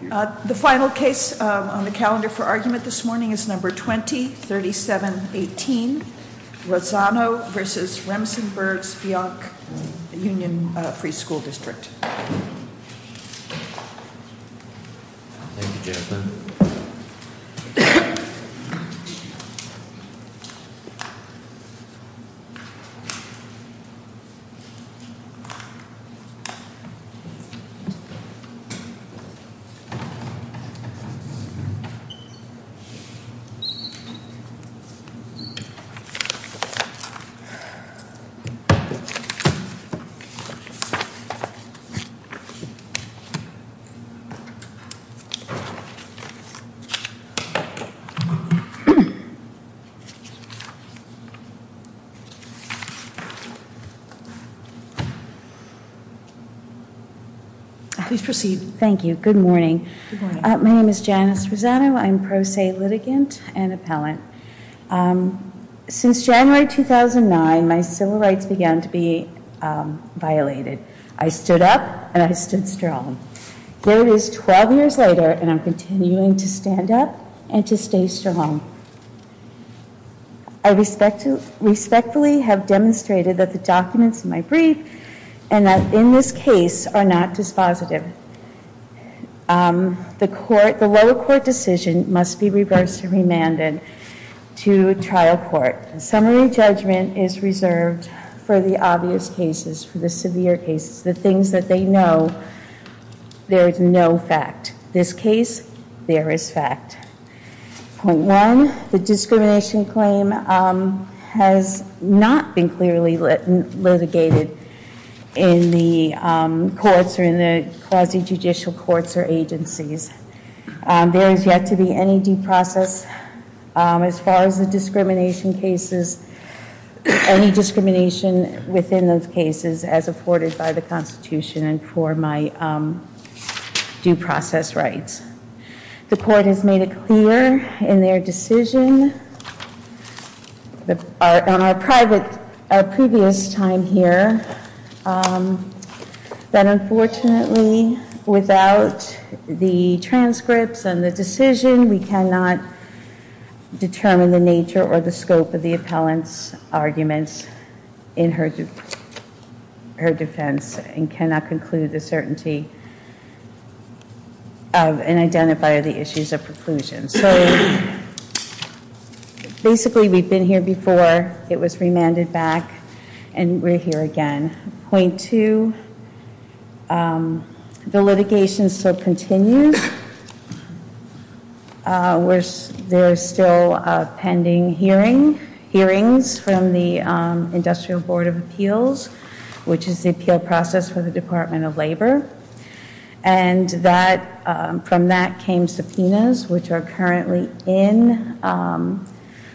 The final case on the calendar for argument this morning is number 20-3718. Razzano v. Remsenburg-Speonk Union Free School District. Thank you, Jennifer. Thank you very much. My name is Janice Rosano. I'm pro se litigant and appellant. Since January 2009, my civil rights began to be violated. I stood up, and I stood strong. Here it is 12 years later, and I'm continuing to stand up and to stay strong. I respectfully have demonstrated that the documents in my brief and that in this case are not dispositive. The lower court decision must be reversed and remanded to trial court. Summary judgment is reserved for the obvious cases, for the severe cases, the things that they know. There is no fact. This case, there is fact. Point one, the discrimination claim has not been clearly litigated in the courts or in the quasi-judicial courts or agencies. There is yet to be any due process. As far as the discrimination cases, any discrimination within those cases as afforded by the Constitution and for my due process rights. The court has made it clear in their decision on our previous time here that unfortunately without the transcripts and the decision, we cannot determine the nature or the scope of the appellant's arguments in her defense and cannot conclude the certainty of and identify the issues of preclusion. So basically, we've been here before. It was remanded back. And we're here again. Point two, the litigation still continues. There are still pending hearings from the Industrial Board of Appeals, which is the appeal process for the Department of Labor. And from that came subpoenas, which are currently in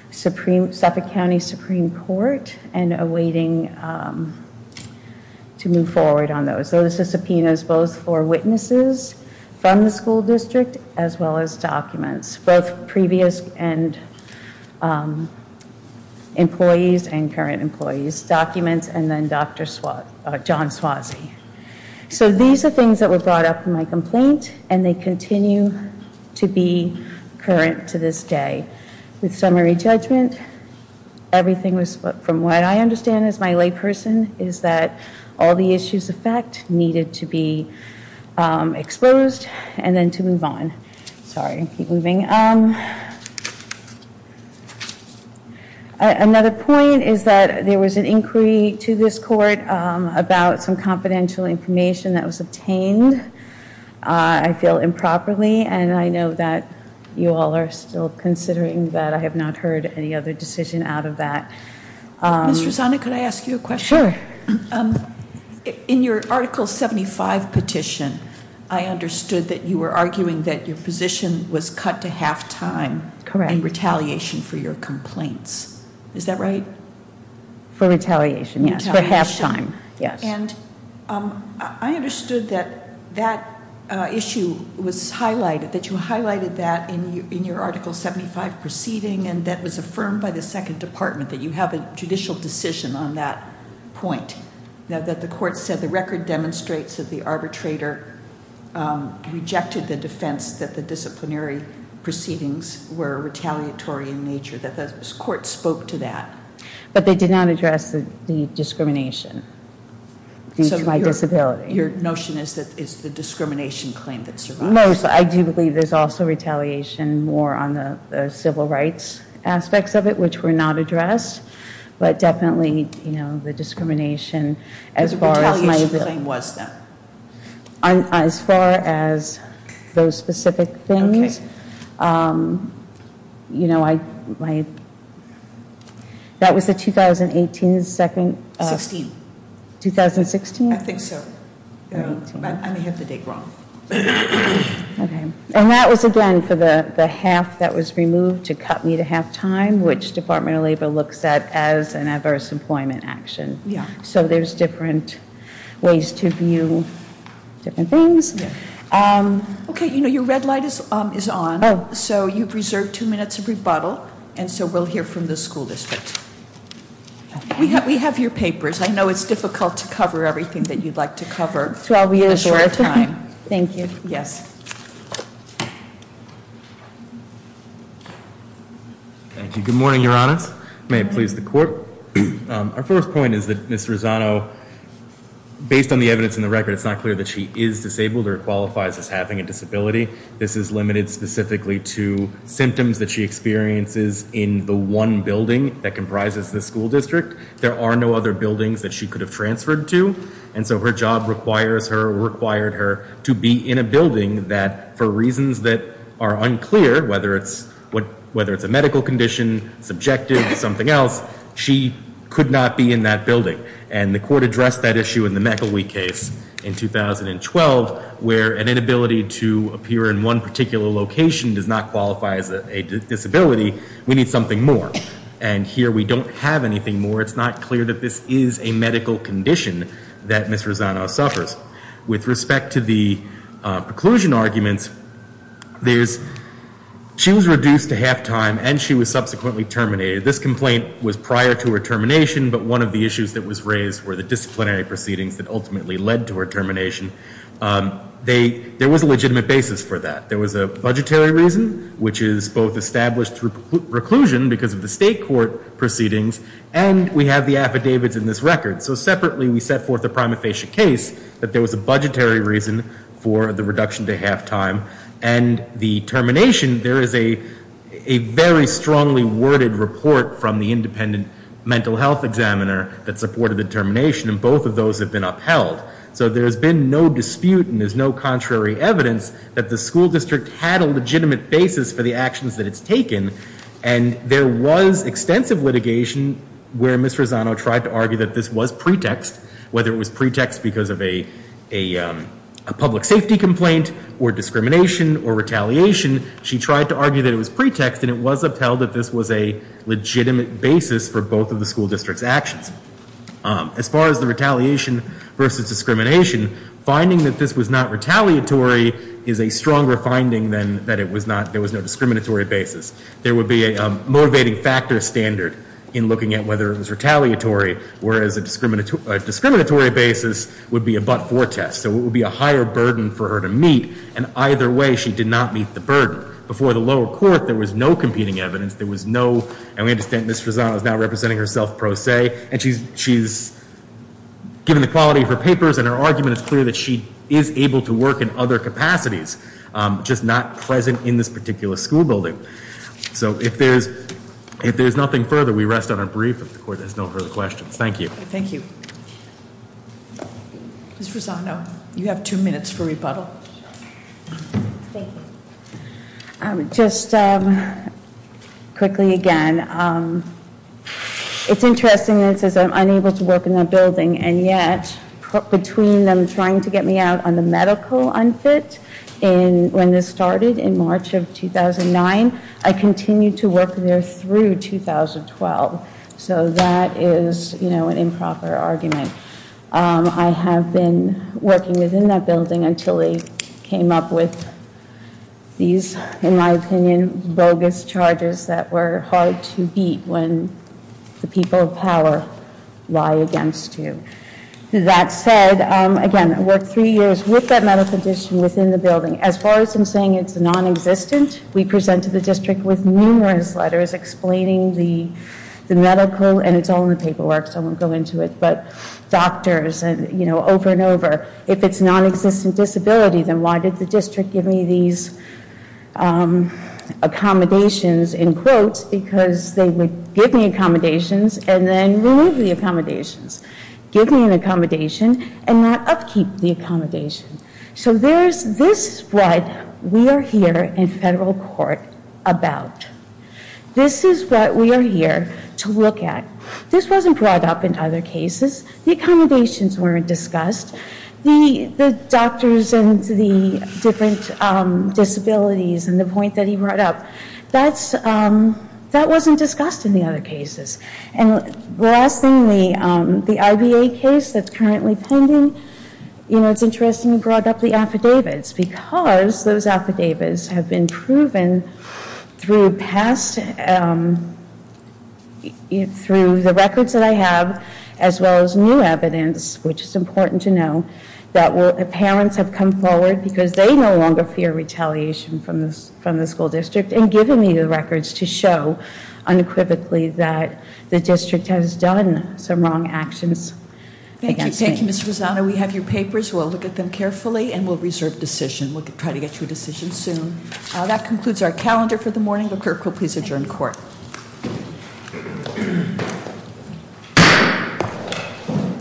Suffolk County Supreme Court and awaiting to move forward on those. Those are subpoenas both for witnesses from the school district as well as documents, both previous and employees and current employees documents and then Dr. John Suozzi. So these are things that were brought up in my complaint. And they continue to be current to this day. With summary judgment, everything was from what I understand as my layperson is that all the issues of fact needed to be exposed and then to move on. Sorry, keep moving. Another point is that there was an inquiry to this court about some confidential information that was obtained, I feel, improperly. And I know that you all are still considering that. I have not heard any other decision out of that. Ms. Rosanna, could I ask you a question? Sure. In your Article 75 petition, I understood that you were arguing that your position was cut to halftime and retaliation for your complaints. Is that right? For retaliation, yes. For halftime, yes. And I understood that that issue was highlighted, that you highlighted that in your Article 75 proceeding and that was affirmed by the Second Department that you have a judicial decision on that point, that the court said the record demonstrates that the arbitrator rejected the defense that the disciplinary proceedings were retaliatory in nature, that the court spoke to that. But they did not address the discrimination due to my disability. Your notion is that it's the discrimination claim that survived. I do believe there's also retaliation more on the civil rights aspects of it, which were not addressed. But definitely, you know, the discrimination, as far as my ability. What the retaliation claim was, then? As far as those specific things, you know, that was the 2018 second. 16. 2016? I think so. I may have the date wrong. And that was, again, for the half that was removed to cut me to halftime, which Department of Labor looks at as an adverse employment action. So there's different ways to view different things. OK, you know, your red light is on. So you've reserved two minutes of rebuttal. And so we'll hear from the school district. We have your papers. I know it's difficult to cover everything that you'd like to cover in a short time. Thank you. Yes. Thank you. Good morning, Your Honors. May it please the court. Our first point is that Ms. Rosano, based on the evidence in the record, it's not clear that she is disabled or qualifies as having a disability. This is limited specifically to symptoms that she experiences in the one building that comprises the school district. There are no other buildings that she could have transferred to. And so her job requires her, required her, to be in a building that, for reasons that are unclear, whether it's a medical condition, subjective, something else, she could not be in that building. And the court addressed that issue in the McElwee case in 2012, where an inability to appear in one particular location does not qualify as a disability. We need something more. And here we don't have anything more. It's not clear that this is a medical condition that Ms. Rosano suffers. With respect to the preclusion arguments, she was reduced to half time. And she was subsequently terminated. This complaint was prior to her termination. But one of the issues that was raised were the disciplinary proceedings that ultimately led to her termination. There was a legitimate basis for that. There was a budgetary reason, which is both established through preclusion because of the state court proceedings. And we have the affidavits in this record. So separately, we set forth a prima facie case that there was a budgetary reason for the reduction to half time. And the termination, there is a very strongly worded report from the independent mental health examiner that supported the termination. And both of those have been upheld. So there's been no dispute and there's no contrary evidence that the school district had a legitimate basis for the actions that it's taken. And there was extensive litigation where Ms. Rosano tried to argue that this was pretext. Whether it was pretext because of a public safety complaint, or discrimination, or retaliation, she tried to argue that it was pretext. And it was upheld that this was a legitimate basis for both of the school district's actions. As far as the retaliation versus discrimination, finding that this was not retaliatory is a stronger finding than that there was no discriminatory basis. There would be a motivating factor standard in looking at whether it was retaliatory, whereas a discriminatory basis would be a but-for test. So it would be a higher burden for her to meet. And either way, she did not meet the burden. Before the lower court, there was no competing evidence. There was no, and we understand Ms. Rosano is now representing herself pro se. And she's given the quality of her papers. And her argument is clear that she is able to work in other capacities, just not present in this particular school building. So if there's nothing further, we rest on our brief. If the court has no further questions. Thank you. Thank you. Ms. Rosano, you have two minutes for rebuttal. Thank you. Just quickly again, it's interesting that it says I'm unable to work in that building. And yet, between them trying to get me out on the medical unfit when this started in March of 2009, I continued to work there through 2012. So that is an improper argument. I have been working within that building until they came up with these, in my opinion, bogus charges that were hard to beat when the people of power lie against you. That said, again, I worked three years with that medical condition within the building. As far as I'm saying it's non-existent, we presented the district with numerous letters explaining the medical. And it's all in the paperwork, so I won't go into it. But doctors, and over and over, if it's non-existent disability, then why did the district give me these accommodations in quotes? Because they would give me accommodations and then remove the accommodations. Give me an accommodation and not upkeep the accommodation. So there's this spread we are here in federal court about. This is what we are here to look at. This wasn't brought up in other cases. The accommodations weren't discussed. The doctors and the different disabilities and the point that he brought up, that wasn't discussed in the other cases. And the last thing, the IBA case that's currently pending, it's interesting you brought up the affidavits because those affidavits have been proven through past, through the records that I have, as well as new evidence, which is important to know, that parents have come forward because they no longer fear retaliation from the school district. And giving me the records to show unequivocally that the district has done some wrong actions against me. Thank you, Ms. Rosado. We have your papers. We'll look at them carefully. And we'll reserve decision. We'll try to get you a decision soon. That concludes our calendar for the morning. The clerk will please adjourn court.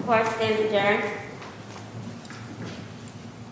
Court is adjourned.